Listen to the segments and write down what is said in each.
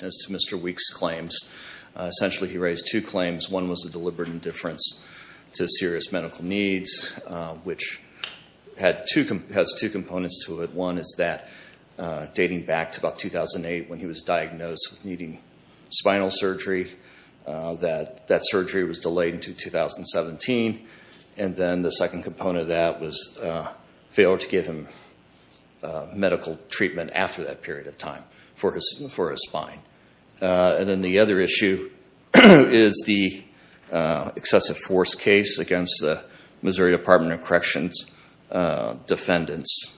As to Mr. Weeks' claims, essentially he raised two claims. One was a deliberate indifference to serious medical needs, which has two components to it. One is that, dating back to about 2008, when he was diagnosed with needing spinal surgery, that surgery was delayed until 2017. And then the second component of that was failure to give him medical treatment after that period of time for his spine. And then the other issue is the excessive force case against the Missouri Department of Corrections defendants.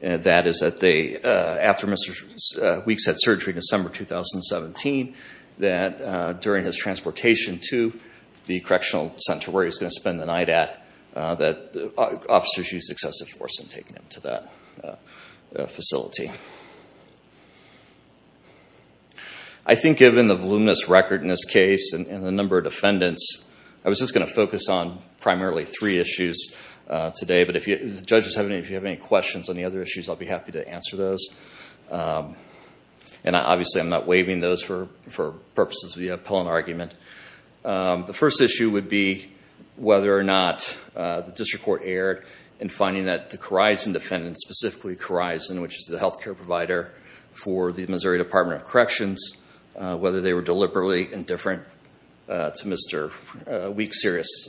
That is, after Mr. Weeks had surgery in December 2017, that during his transportation to the correctional center where he was going to spend the night at, that officers used excessive force in taking him to that facility. I think given the voluminous record in this case and the number of defendants, I was just going to focus on primarily three issues today. But if the judges have any questions on the other issues, I'll be happy to answer those. And obviously I'm not waiving those for purposes of the appellant argument. The first issue would be whether or not the district court erred in finding that the Corizon defendant, specifically Corizon, which is the health care provider for the Missouri Department of Corrections, whether they were deliberately indifferent to Mr. Weeks' serious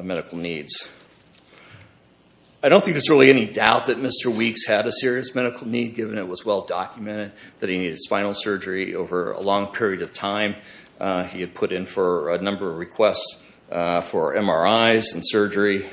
medical needs. I don't think there's really any doubt that Mr. Weeks had a serious medical need, given it was well documented that he needed spinal surgery over a long period of time. He had put in for a number of requests for MRIs and surgery.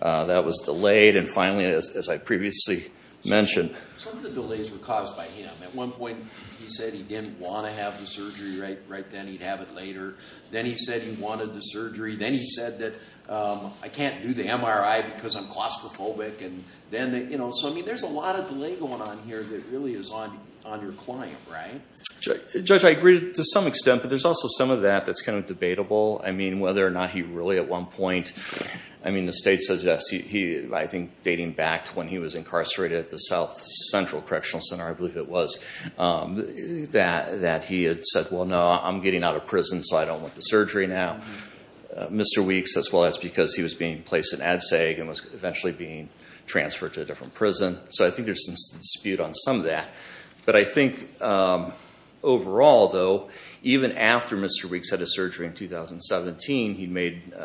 That was delayed. And finally, as I previously mentioned... Some of the delays were caused by him. At one point he said he didn't want to have the surgery right then, he'd have it later. Then he said he wanted the surgery. Then he said that I can't do the MRI because I'm claustrophobic. So there's a lot of delay going on here that really is on your client, right? Judge, I agree to some extent, but there's also some of that that's kind of debatable. I mean, whether or not he really at one point... I mean, the state says yes. I think dating back to when he was incarcerated at the South Central Correctional Center, I believe it was, that he had said, well, no, I'm getting out of prison, so I don't want the surgery now. Mr. Weeks, as well as because he was being placed in Ad Seg and was eventually being transferred to a different prison. So I think there's some dispute on some of that. But I think overall, though, even after Mr. Weeks had his surgery in 2017, he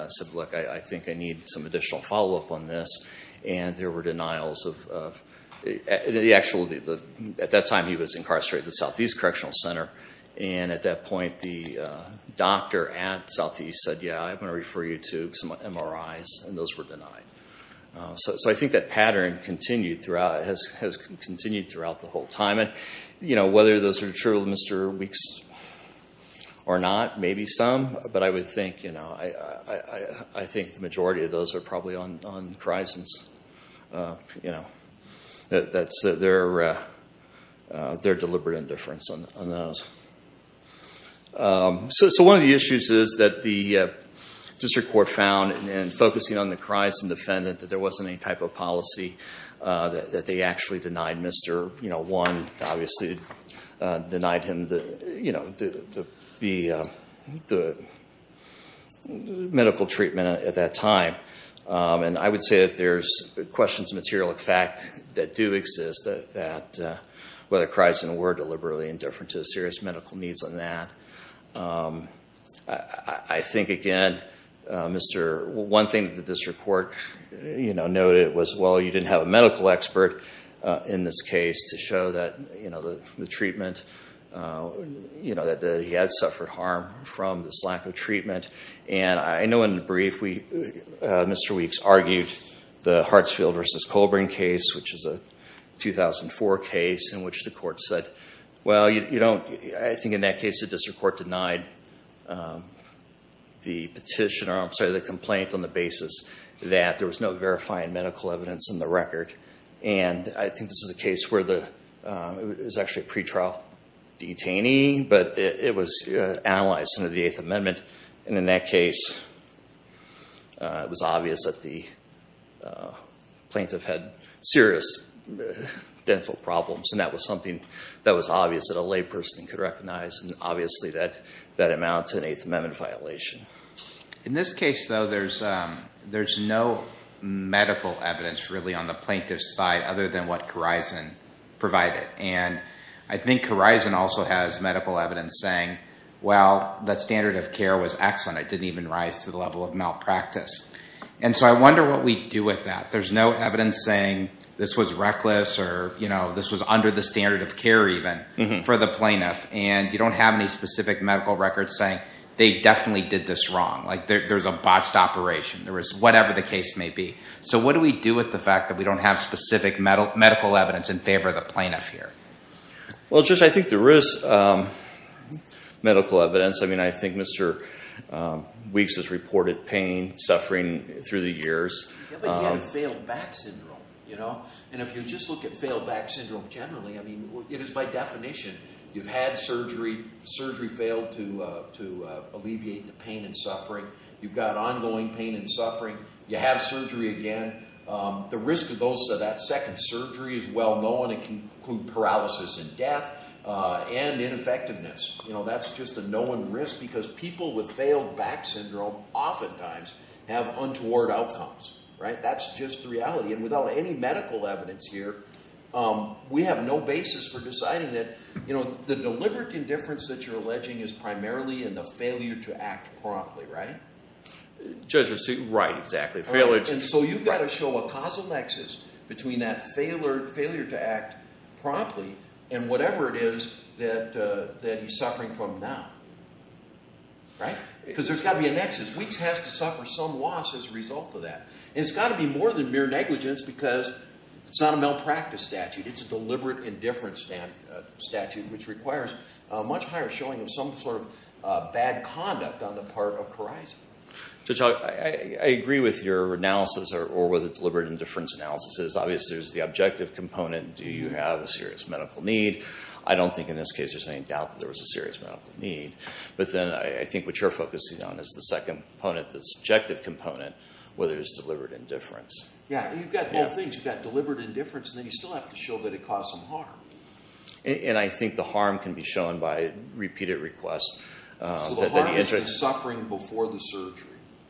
said, look, I think I need some additional follow-up on this. And there were denials of... At that time he was incarcerated at the Southeast Correctional Center, and at that point the state was going to refer you to some MRIs, and those were denied. So I think that pattern continued throughout, has continued throughout the whole time. And, you know, whether those are true of Mr. Weeks or not, maybe some, but I would think, you know, I think the majority of those are probably on Kryzant's, you know, that's their deliberate indifference on those. So one of the issues is that the district court found in focusing on the Kryzant defendant that there wasn't any type of policy that they actually denied. Mr. One obviously denied him the, you know, the medical treatment at that time. And I would say that there's questions of material fact that do exist that whether Kryzant were deliberately indifferent to the serious medical needs on that. I think, again, Mr. One thing that the district court, you know, noted was, well, you didn't have a medical expert in this case to show that, you know, the treatment, you know, that he had suffered harm from this lack of treatment. And I know in the brief, Mr. Weeks argued the Hartsfield v. Colbrin case, which is a 2004 case in which the court said, well, you don't, I think in that case the district court denied the petitioner, I'm sorry, the complaint on the basis that there was no verifying medical evidence in the record. And I think this is a case where the, it was actually a pretrial detainee, but it was analyzed under the Eighth Amendment. And in that case, it was obvious that the plaintiff had serious dental problems. And that was something that was obvious that a layperson could recognize. And obviously that amounts to an Eighth Amendment violation. In this case, though, there's no medical evidence really on the plaintiff's side other than what Kryzant provided. And I think Kryzant also has medical evidence saying, well, that I wonder what we do with that. There's no evidence saying this was reckless or, you know, this was under the standard of care even for the plaintiff. And you don't have any specific medical records saying they definitely did this wrong. Like there's a botched operation. There was whatever the case may be. So what do we do with the fact that we don't have specific medical evidence in favor of the plaintiff here? Well, Judge, I think there is medical evidence. I mean, I think Mr. Weeks has reported pain, suffering through the years. Yeah, but you had a failed back syndrome, you know. And if you just look at failed back syndrome generally, I mean, it is by definition. You've had surgery, surgery failed to alleviate the pain and suffering. You've got ongoing pain and suffering. You have surgery again. The risk of that second surgery is well known. It can include paralysis and death and ineffectiveness. You know, that's just a known risk because people with failed back syndrome oftentimes have untoward outcomes, right? That's just the reality. And without any medical evidence here, we have no basis for deciding that, you know, the deliberate indifference that you're alleging is primarily in the failure to act promptly, right? Judge, right, exactly. Failure to... So you've got to show a causal nexus between that failure to act promptly and whatever it is that he's suffering from now, right? Because there's got to be a nexus. Weeks has to suffer some loss as a result of that. And it's got to be more than mere negligence because it's not a malpractice statute. It's a deliberate indifference statute, which requires a much higher showing of some sort of bad conduct on the part of Kharizia. Judge, I agree with your analysis or with the deliberate indifference analysis. Obviously, there's the objective component. Do you have a serious medical need? I don't think in this case there's any doubt that there was a serious medical need. But then I think what you're focusing on is the second component, the subjective component, whether it was deliberate indifference. Yeah, you've got both things. You've got deliberate indifference, and then you still have to show that it caused some harm. And I think the harm can be shown by repeated requests. So the harm is in suffering before the surgery?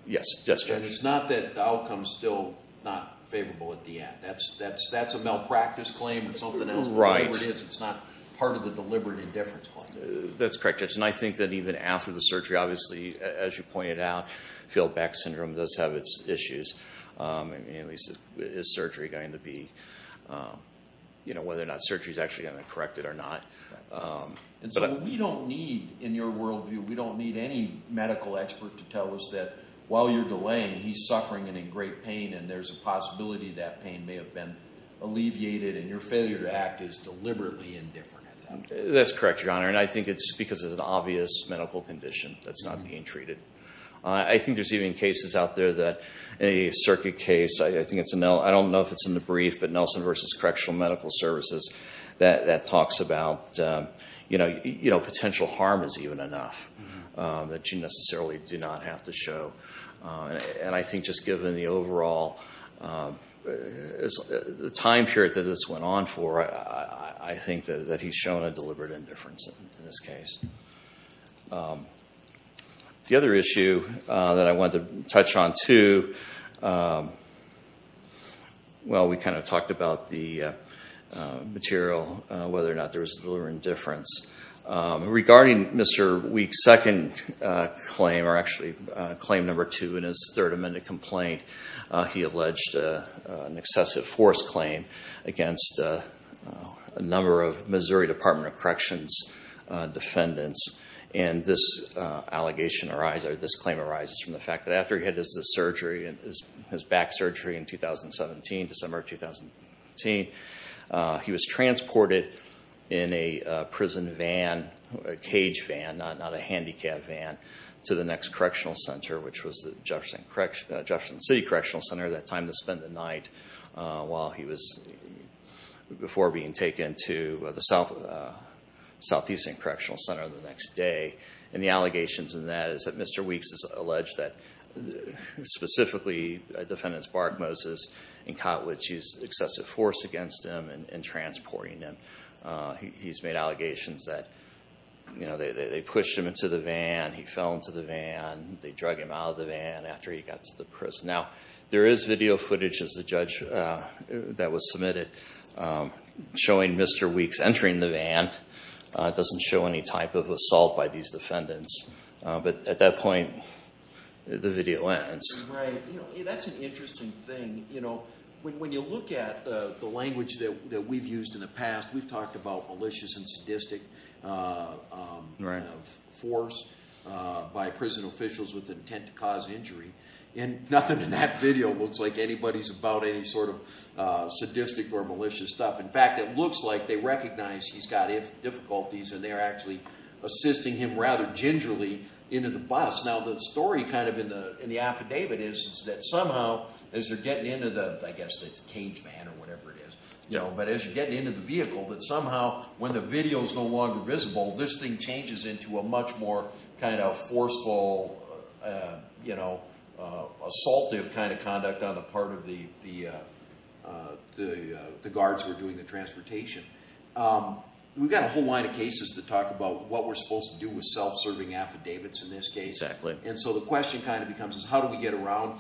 Yes, Judge. And it's not that the outcome is still not favorable at the end. That's a malpractice claim or something else. Whatever it is, it's not part of the deliberate indifference claim. That's correct, Judge. And I think that even after the surgery, obviously, as you pointed out, Field-Back Syndrome does have its issues. I mean, at least is surgery going to be, you know, whether or not surgery is actually going to correct it or not. And so we don't need, in your worldview, we don't need any medical expert to tell us that while you're delaying, he's suffering and in great pain, and there's a possibility that pain may have been alleviated, and your failure to act is deliberately indifferent at that point. That's correct, Your Honor. And I think it's because it's an obvious medical condition that's not being treated. I think there's even cases out there that a circuit case, I think it's a, I don't know if it's in the brief, but Nelson v. Correctional Medical Services that talks about, you know, potential harm is even enough that you necessarily do not have to show. And I think just given the overall, the time period that this went on for, I think that he's shown a deliberate indifference in this case. The other issue that I wanted to touch on, too, well, we kind of talked about the material, whether or not there was deliberate indifference. Regarding Mr. Weeks' second claim, or actually claim number two in his Third Amendment complaint, he alleged an excessive force claim against a number of Missouri Department of Corrections defendants. And this allegation arises, or this claim arises from the fact that after he had his surgery, his back surgery in 2017, December of 2015, he was transported in a prison van, a cage van, not a handicap van, to the next correctional center, which was the Jefferson City Correctional Center, that time to spend the night while he was, before being taken to the Southeastern Correctional Center the next day. And the allegations in that is that Mr. Weeks has alleged that specifically defendants Bark, Moses, and Kotwicz used excessive force against him in transporting him. He's made allegations that they pushed him into the van, he fell into the van, they drug him out of the van after he got to the prison. Now, there is video footage, as the judge that was submitted, showing Mr. Weeks entering the van. It doesn't show any type of assault by these defendants. But at that that's an interesting thing. You know, when you look at the language that we've used in the past, we've talked about malicious and sadistic force by prison officials with intent to cause injury, and nothing in that video looks like anybody's about any sort of sadistic or malicious stuff. In fact, it looks like they recognize he's got difficulties and they're actually assisting him gingerly into the bus. Now, the story kind of in the affidavit is that somehow, as they're getting into the, I guess it's a cage van or whatever it is, you know, but as you're getting into the vehicle, that somehow when the video is no longer visible, this thing changes into a much more kind of forceful, you know, assaultive kind of conduct on the part of the guards who are doing the self-serving affidavits in this case. And so the question kind of becomes is how do we get around,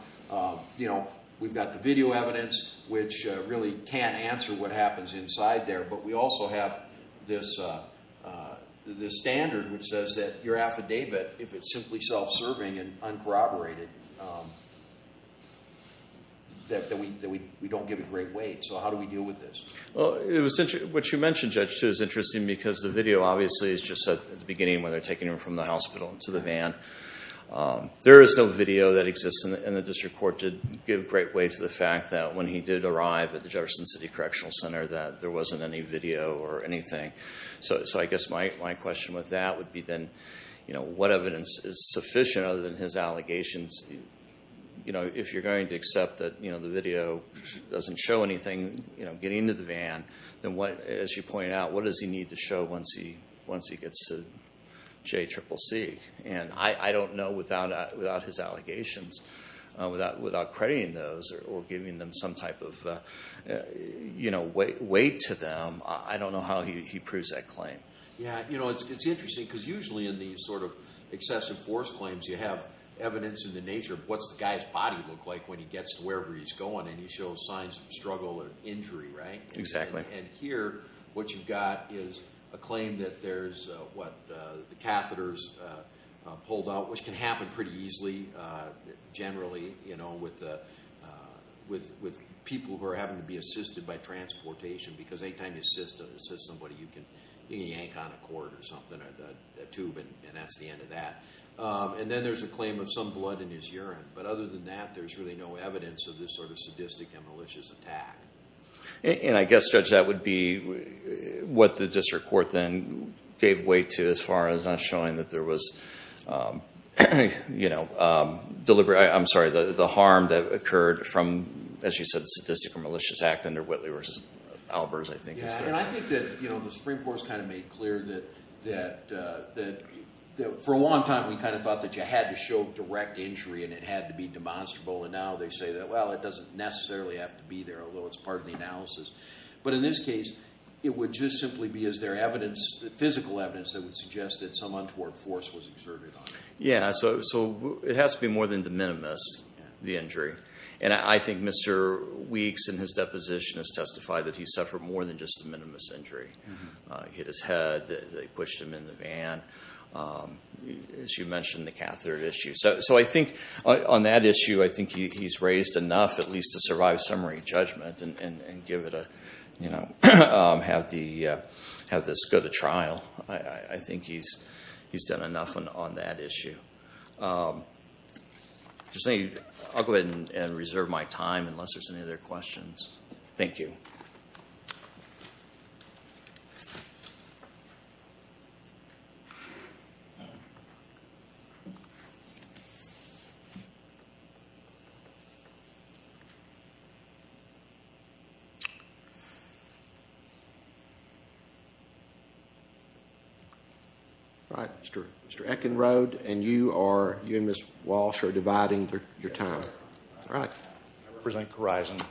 you know, we've got the video evidence, which really can't answer what happens inside there, but we also have this standard which says that your affidavit, if it's simply self-serving and uncorroborated, that we don't give it great weight. So how do we deal with this? Well, what you mentioned, Judge, too, is interesting because the video obviously is just at the beginning where they're taking him from the hospital into the van. There is no video that exists in the district court to give great weight to the fact that when he did arrive at the Jefferson City Correctional Center that there wasn't any video or anything. So I guess my question with that would be then, you know, what evidence is sufficient other than his allegations? You know, if you're going to accept that, you know, the video doesn't show anything, you know, getting into the van, then what, as you pointed out, what does he need to show once he gets to JCCC? And I don't know without his allegations, without crediting those or giving them some type of, you know, weight to them, I don't know how he proves that claim. Yeah, you know, it's interesting because usually in these sort of excessive force claims you have evidence in the nature of what's the guy's body look like when he gets to wherever he's going and he shows signs of struggle or injury, right? Exactly. And here what you've got is a claim that there's what the catheters pulled out, which can happen pretty easily generally, you know, with people who are having to be assisted by transportation because anytime you assist somebody you can yank on a cord or something, a tube and that's the end of that. And then there's a claim of some blood in his urine, but other than that there's really no evidence of this sort of sadistic and malicious attack. And I guess, Judge, that would be what the district court then gave weight to as far as not showing that there was, you know, deliberate, I'm sorry, the harm that occurred from, as you said, a sadistic or malicious act under Whitley v. Albers, I think. Yeah, and I think that, you know, the Supreme Court's kind of made clear that for a long time we kind of thought that you had to show direct injury and it had to be demonstrable, and now they say that, well, it doesn't necessarily have to be there, although it's part of the analysis. But in this case it would just simply be, is there evidence, physical evidence, that would suggest that some untoward force was exerted on it? Yeah, so it has to be more than de minimis, the injury. And I think Mr. Weeks in his deposition has testified that he suffered more than just a minimus injury. He hit his head, they pushed him in the van, as you mentioned the catheter issue. So I think on that issue I think he's raised enough at least to survive summary judgment and give it a, you know, have this go to trial. I think he's done enough on that issue. I'll go ahead and reserve my time unless there's any other questions. Thank you. All right, Mr. Eckenrode and you are, you and Ms. Walsh are dividing your time. All right. I represent Corizon.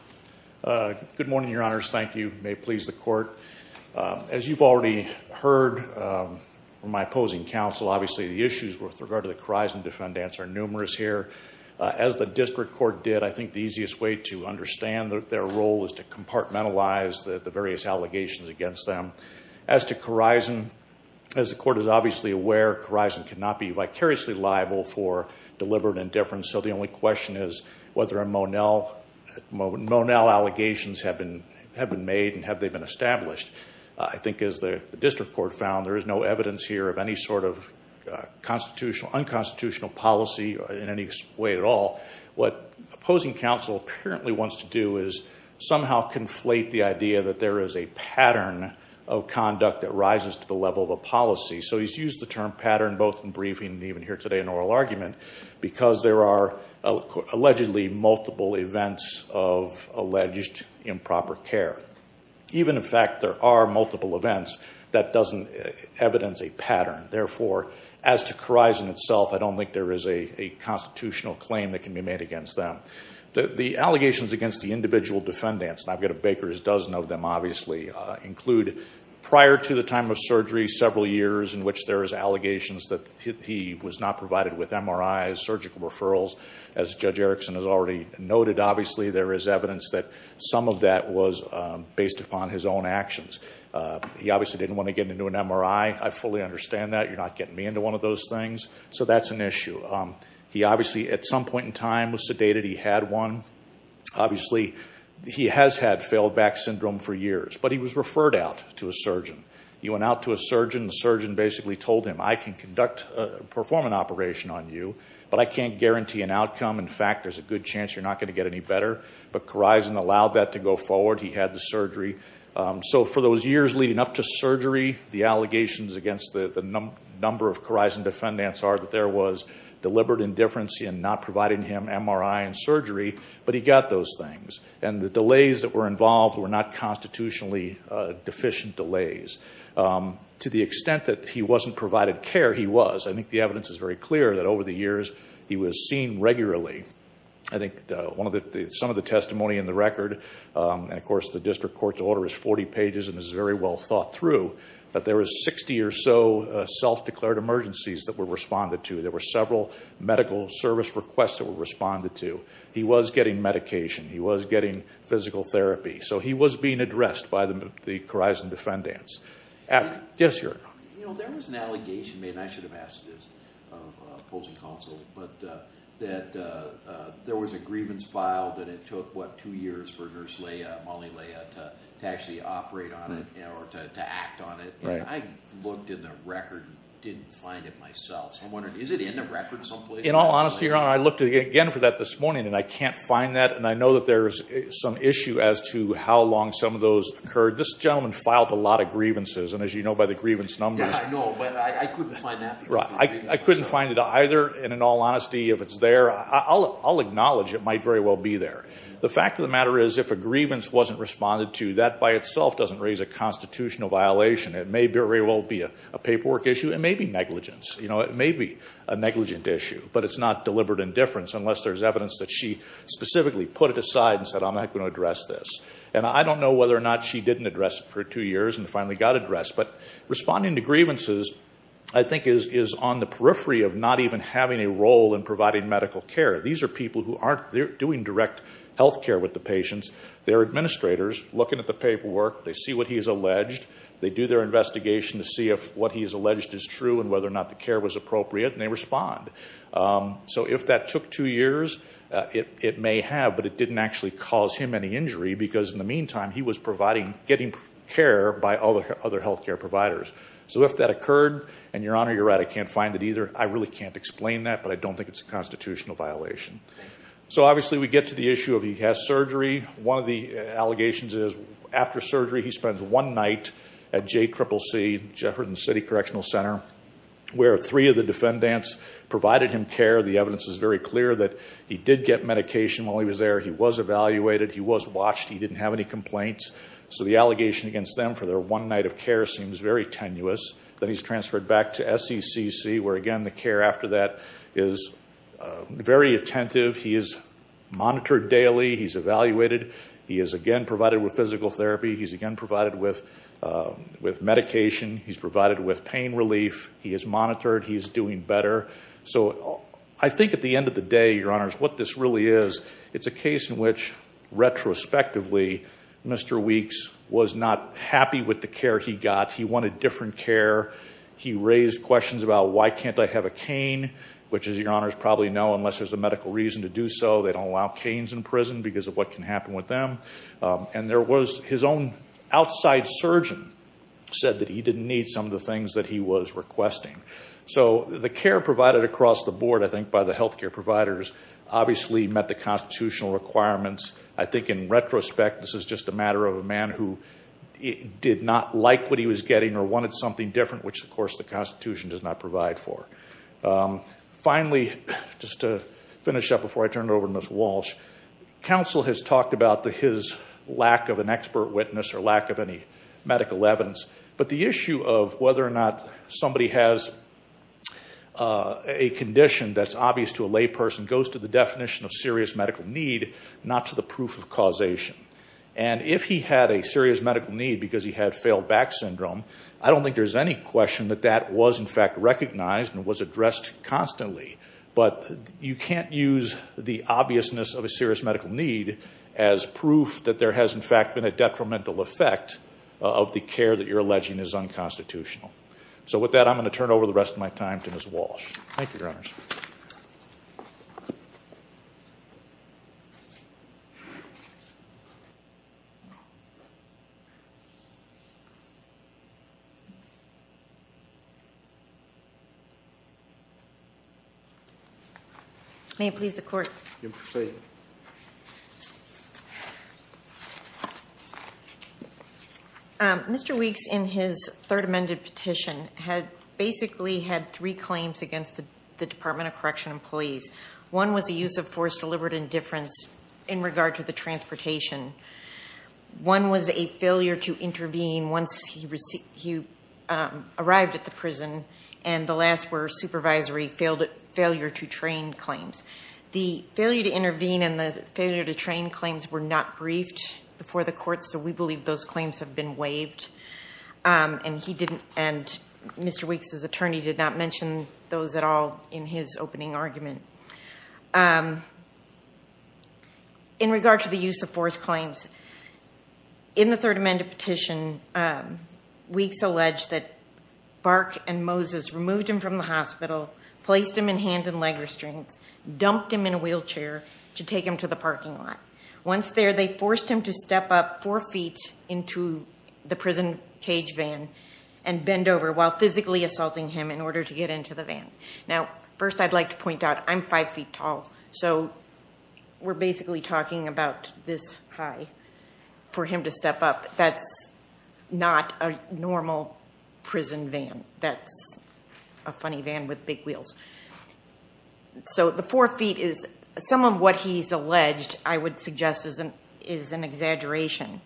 Good morning, your honors. Thank you. May it please the court. As you've already heard from my As the district court did, I think the easiest way to understand their role is to compartmentalize the various allegations against them. As to Corizon, as the court is obviously aware, Corizon cannot be vicariously liable for deliberate indifference, so the only question is whether a Monel allegations have been made and have they been established. I think as the district court found, there is no unconstitutional policy in any way at all. What opposing counsel apparently wants to do is somehow conflate the idea that there is a pattern of conduct that rises to the level of a policy. So he's used the term pattern both in briefing and even here today in oral argument because there are allegedly multiple events of alleged improper care. Even in fact there are multiple events, that doesn't evidence a pattern. Therefore, as to Corizon itself, I don't think there is a constitutional claim that can be made against them. The allegations against the individual defendants, and I've got a baker's dozen of them obviously, include prior to the time of surgery, several years in which there is allegations that he was not provided with MRIs, surgical referrals. As Judge Erickson has already noted, obviously there is evidence that some of that was based upon his own actions. He obviously didn't want to get into an MRI. I fully understand that. You're not getting me into one of those things. So that's an issue. He obviously at some point in time was sedated. He had one. Obviously, he has had failed back syndrome for years, but he was referred out to a surgeon. He went out to a surgeon. The surgeon basically told him, I can perform an operation on you, but I can't guarantee an outcome. In fact, there's a good chance you're not going to get any better. But Corizon allowed that to go forward. He had the surgery. So for those years leading up to surgery, the allegations against the number of Corizon defendants are that there was deliberate indifference in not providing him MRI and surgery, but he got those things. And the delays that were involved were not constitutionally deficient delays. To the extent that he wasn't provided care, he was. I think the evidence is very clear that over the years he was seen regularly. I think some of the testimony in the record, and of course the district court's order is 40 pages and is very well thought through, but there was 60 or so self-declared emergencies that were responded to. There were several medical service requests that were responded to. He was getting medication. He was getting physical therapy. So he was being addressed by the Corizon defendants. Yes, sir. You know, there was an allegation, and I should have asked this of opposing counsel, but that there was a grievance filed and it took, what, two years for Nurse Leia, Molly Leia, to actually operate on it or to act on it. I looked in the record and didn't find it myself. So I'm wondering, is it in the record someplace? In all honesty, Your Honor, I looked again for that this morning and I can't find that. And I know that there's some issue as to how long some of those occurred. This gentleman filed a lot of grievances, and as you know by the grievance numbers. Yeah, I know, but I couldn't find that. Right. I couldn't find it either. And in all honesty, if it's there, I'll acknowledge it might very well be there. The fact of the matter is if a grievance wasn't responded to, that by itself doesn't raise a constitutional violation. It may very well be a paperwork issue. It may be negligence. You know, it may be a negligent issue, but it's not deliberate indifference unless there's evidence that she specifically put it aside and said, I'm not going to address this. And I don't know whether or not she didn't address it for two years and finally got addressed. But responding to grievances, I think, is on the periphery of not even having a role in providing medical care. These are people who aren't doing direct health care with the patients. They're administrators looking at the paperwork. They see what he's alleged. They do their investigation to see if what he's alleged is true and whether or not the care was appropriate, and they respond. So if that took two years, it may have, but it didn't actually cause him any injury, because in the meantime, he was getting care by other health care providers. So if that occurred, and Your Honor, you're right, I can't find it either. I really can't explain that, but I don't think it's a constitutional violation. So obviously, we get to the issue of he has surgery. One of the allegations is after surgery, he spends one night at JCCC, Jefferson City Correctional Center, where three of the defendants provided him care. The evidence is very clear that he did get medication while he was there. He was watched. He didn't have any complaints. So the allegation against them for their one night of care seems very tenuous. Then he's transferred back to SECC, where again, the care after that is very attentive. He is monitored daily. He's evaluated. He is again provided with physical therapy. He's again provided with medication. He's provided with pain relief. He is monitored. He's doing better. So I think at the end of the day, Your Honors, what this really is, it's a case in which retrospectively, Mr. Weeks was not happy with the care he got. He wanted different care. He raised questions about why can't I have a cane, which as Your Honors probably know, unless there's a medical reason to do so, they don't allow canes in prison because of what can happen with them. And there was his own outside surgeon said that he didn't need some of the things that he was requesting. So the care provided across the board, I think, by the health care providers obviously met the constitutional requirements. I think in retrospect, this is just a matter of a man who did not like what he was getting or wanted something different, which of course the Constitution does not provide for. Finally, just to finish up before I turn it over to Ms. Walsh, counsel has talked about his lack of an expert witness or lack of any medical evidence. But the issue of whether or not somebody has a condition that's obvious to a layperson goes to the definition of serious medical need, not to the proof of causation. And if he had a serious medical need because he had failed back syndrome, I don't think there's any question that that was in fact recognized and was addressed constantly. But you can't use the obviousness of a serious medical need as proof that there has in fact been a detrimental effect of the care that you're getting. So with that, I'm going to turn over the rest of my time to Ms. Walsh. Thank you, Your So the defendant basically had three claims against the Department of Correctional employees. One was the use of force, deliberate indifference in regard to the transportation. One was a failure to intervene once he arrived at the prison, and the last were supervisory failure to train claims. The failure to intervene and the failure to train claims were not briefed before the courts, so we believe those claims have been waived, and Mr. Weeks' attorney did not mention those at all in his opening argument. In regard to the use of force claims, in the Third Amendment petition, Weeks alleged that Bark and Moses removed him from the hospital, placed him in hand and leg restraints, dumped him in a wheelchair to take him to the parking lot. Once there, they forced him to step up four feet into the prison cage van and bend over while physically assaulting him in order to get into the van. Now, first I'd like to point out I'm five feet tall, so we're basically talking about this high for him to step up. That's not a normal prison van. That's a funny van with big wheels. So, the four feet is some of what he's alleged, I would suggest, is an exaggeration.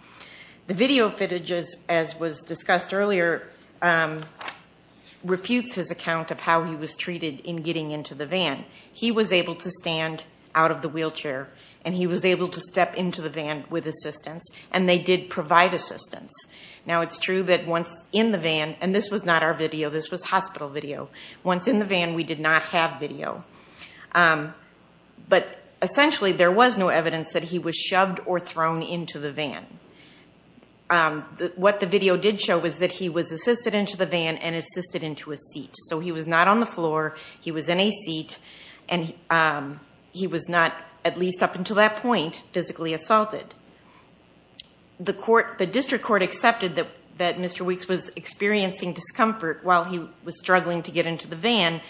The video footage, as was discussed earlier, refutes his account of how he was treated in getting into the van. He was able to stand out of the wheelchair, and he was able to step into the van with assistance, and they did provide assistance. Now, it's true that once in the van, and this was hospital video, once in the van, we did not have video. But essentially, there was no evidence that he was shoved or thrown into the van. What the video did show was that he was assisted into the van and assisted into a seat. So, he was not on the floor, he was in a seat, and he was not, at least up until that point, physically assaulted. The district court accepted that Mr. Weeks was experiencing discomfort while he was struggling to get into the van.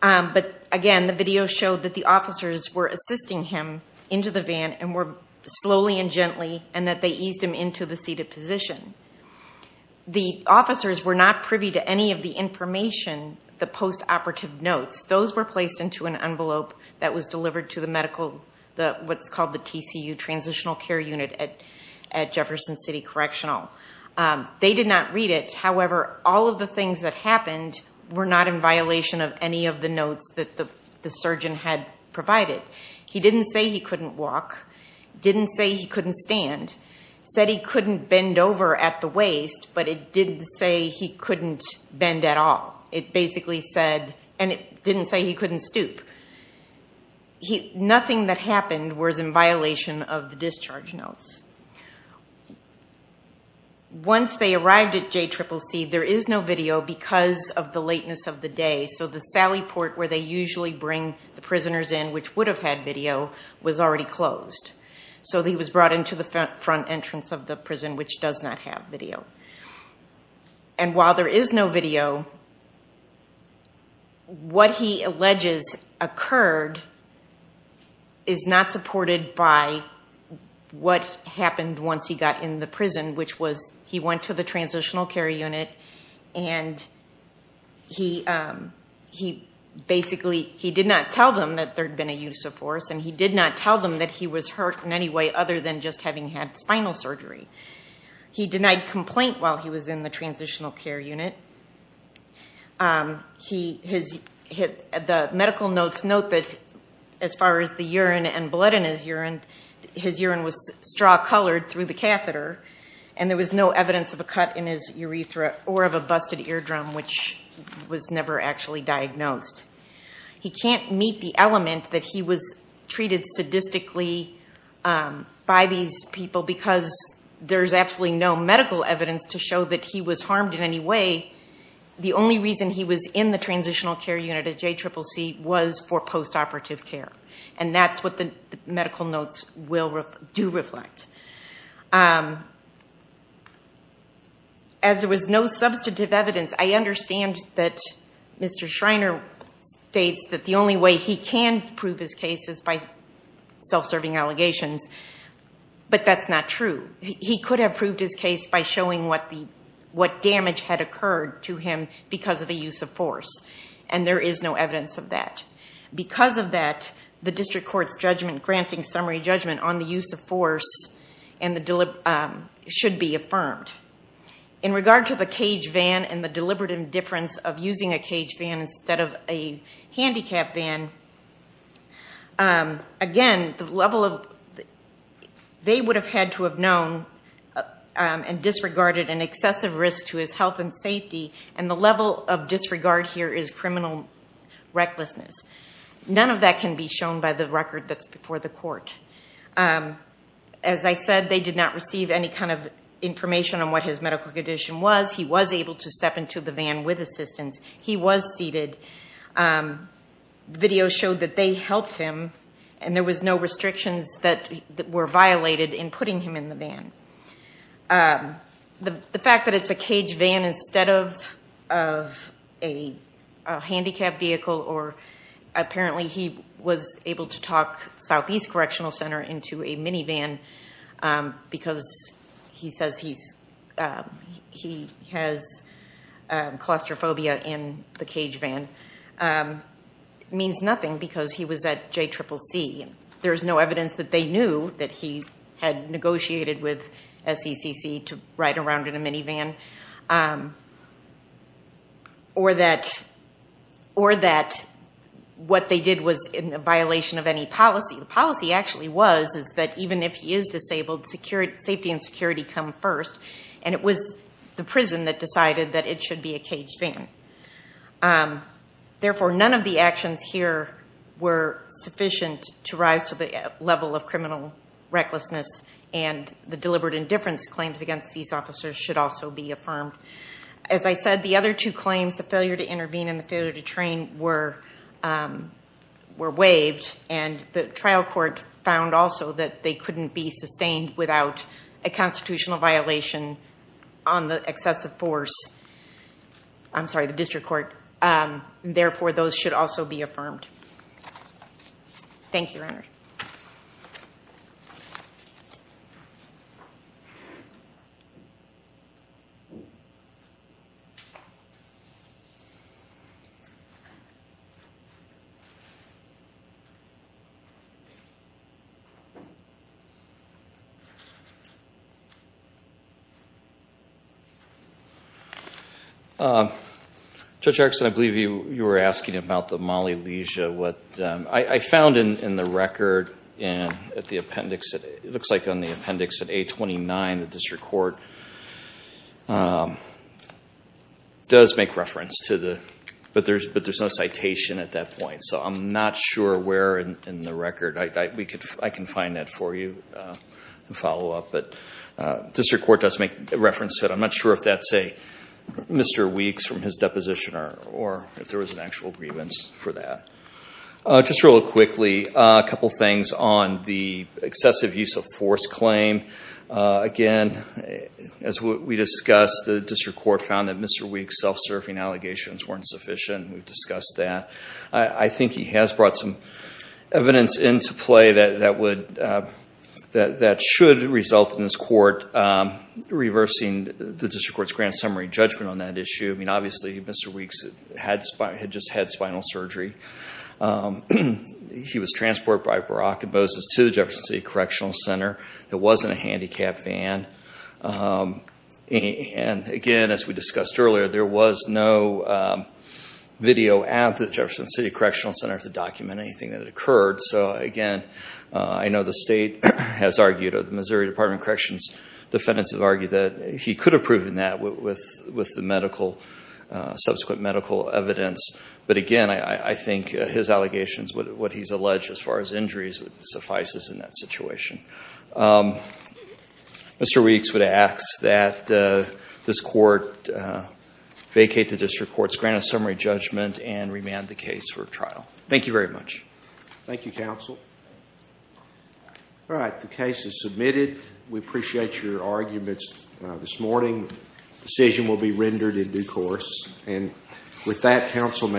But again, the video showed that the officers were assisting him into the van, and were slowly and gently, and that they eased him into the seated position. The officers were not privy to any of the information, the post-operative notes. Those were placed into an envelope that was delivered to the medical, what's called the TCU, Transitional Care Unit at Jefferson City Correctional. They did not read it. However, all of the things that happened were not in violation of any of the notes that the surgeon had provided. He didn't say he couldn't walk, didn't say he couldn't stand, said he couldn't bend over at the waist, but it didn't say he couldn't bend at all. It basically said, and it didn't say he couldn't stoop. Nothing that happened was in violation of the discharge notes. Once they arrived at JCCC, there is no video because of the lateness of the day. So the sally port, where they usually bring the prisoners in, which would have had video, was already closed. So he was brought into the front entrance of the prison, which does not have video. While there is no video, what he alleges occurred is not supported by what happened once he got in the prison, which was he went to the Transitional Care Unit and he basically did not tell them that there had been a use of force and he did not tell them that he was hurt in any way other than just had spinal surgery. He denied complaint while he was in the Transitional Care Unit. The medical notes note that as far as the urine and blood in his urine, his urine was straw-colored through the catheter and there was no evidence of a cut in his urethra or of a busted eardrum, which was never actually diagnosed. He can't meet the element that he was sadistically by these people because there is absolutely no medical evidence to show that he was harmed in any way. The only reason he was in the Transitional Care Unit at JCCC was for post-operative care and that's what the medical notes do reflect. As there was no substantive evidence, I understand that Mr. Schreiner states that the only way he can prove his case is by self-serving allegations, but that's not true. He could have proved his case by showing what damage had occurred to him because of the use of force and there is no evidence of that. Because of that, the district court's judgment granting summary judgment on the use of force should be affirmed. In regard to the cage van and the deliberate indifference of using a cage van instead of a handicap van, they would have had to have known and disregarded an excessive risk to his health and safety, and the level of disregard here is criminal recklessness. None of that can be shown by the record that's before the court. As I said, they did not receive any kind of information on what his medical condition was. He was able to step into the van with assistance. He was seated. Videos showed that they helped him and there were no restrictions that were violated in putting him in the van. The fact that it's a cage van instead of a handicap vehicle or apparently he was able to talk Southeast Correctional Center into a minivan because he says he has claustrophobia in the cage van means nothing because he was at JCCC. There's no evidence that they knew that he had negotiated with SECC to ride around in a minivan or that what they did was in a policy. The policy actually was that even if he is disabled, safety and security come first, and it was the prison that decided that it should be a caged van. Therefore, none of the actions here were sufficient to rise to the level of criminal recklessness and the deliberate indifference claims against these officers should also be affirmed. As I said, the other two claims, the failure to intervene and the failure to train, were waived and the trial court found also that they couldn't be sustained without a constitutional violation on the excessive force. I'm sorry, the district court. Therefore, those should also be affirmed. Thank you, Your Honor. Judge Erickson, I believe you were asking about the molly lesia. I found in the record at the appendix, it looks like on the appendix at A29, the district court does make reference to the, but there's no citation at that point, so I'm not sure where in the record. I can find that for you and follow up, but district court does make reference to it. I'm not sure if that's a Mr. Weeks from his deposition or if there was an actual grievance for that. Just real quickly, a couple things on the excessive use of force claim. Again, as we discussed, the district court found that Mr. Weeks' self-serving allegations weren't sufficient. We've discussed that. I think he has brought some evidence into play that should result in this court reversing the district court's grand summary judgment on that surgery. He was transported by barockibosis to the Jefferson City Correctional Center. It wasn't a handicapped van. Again, as we discussed earlier, there was no video at the Jefferson City Correctional Center to document anything that had occurred. Again, I know the state has argued, or the Missouri Department of Corrections defendants have argued that he could have proven that with the subsequent medical evidence, but again, I think his allegations, what he's alleged as far as injuries, suffices in that situation. Mr. Weeks would ask that this court vacate the district court's grand summary judgment and remand the case for trial. Thank you very much. Thank you, counsel. All right. The case is submitted. We appreciate your arguments this morning. The decision will be rendered in due course. With that, counsel may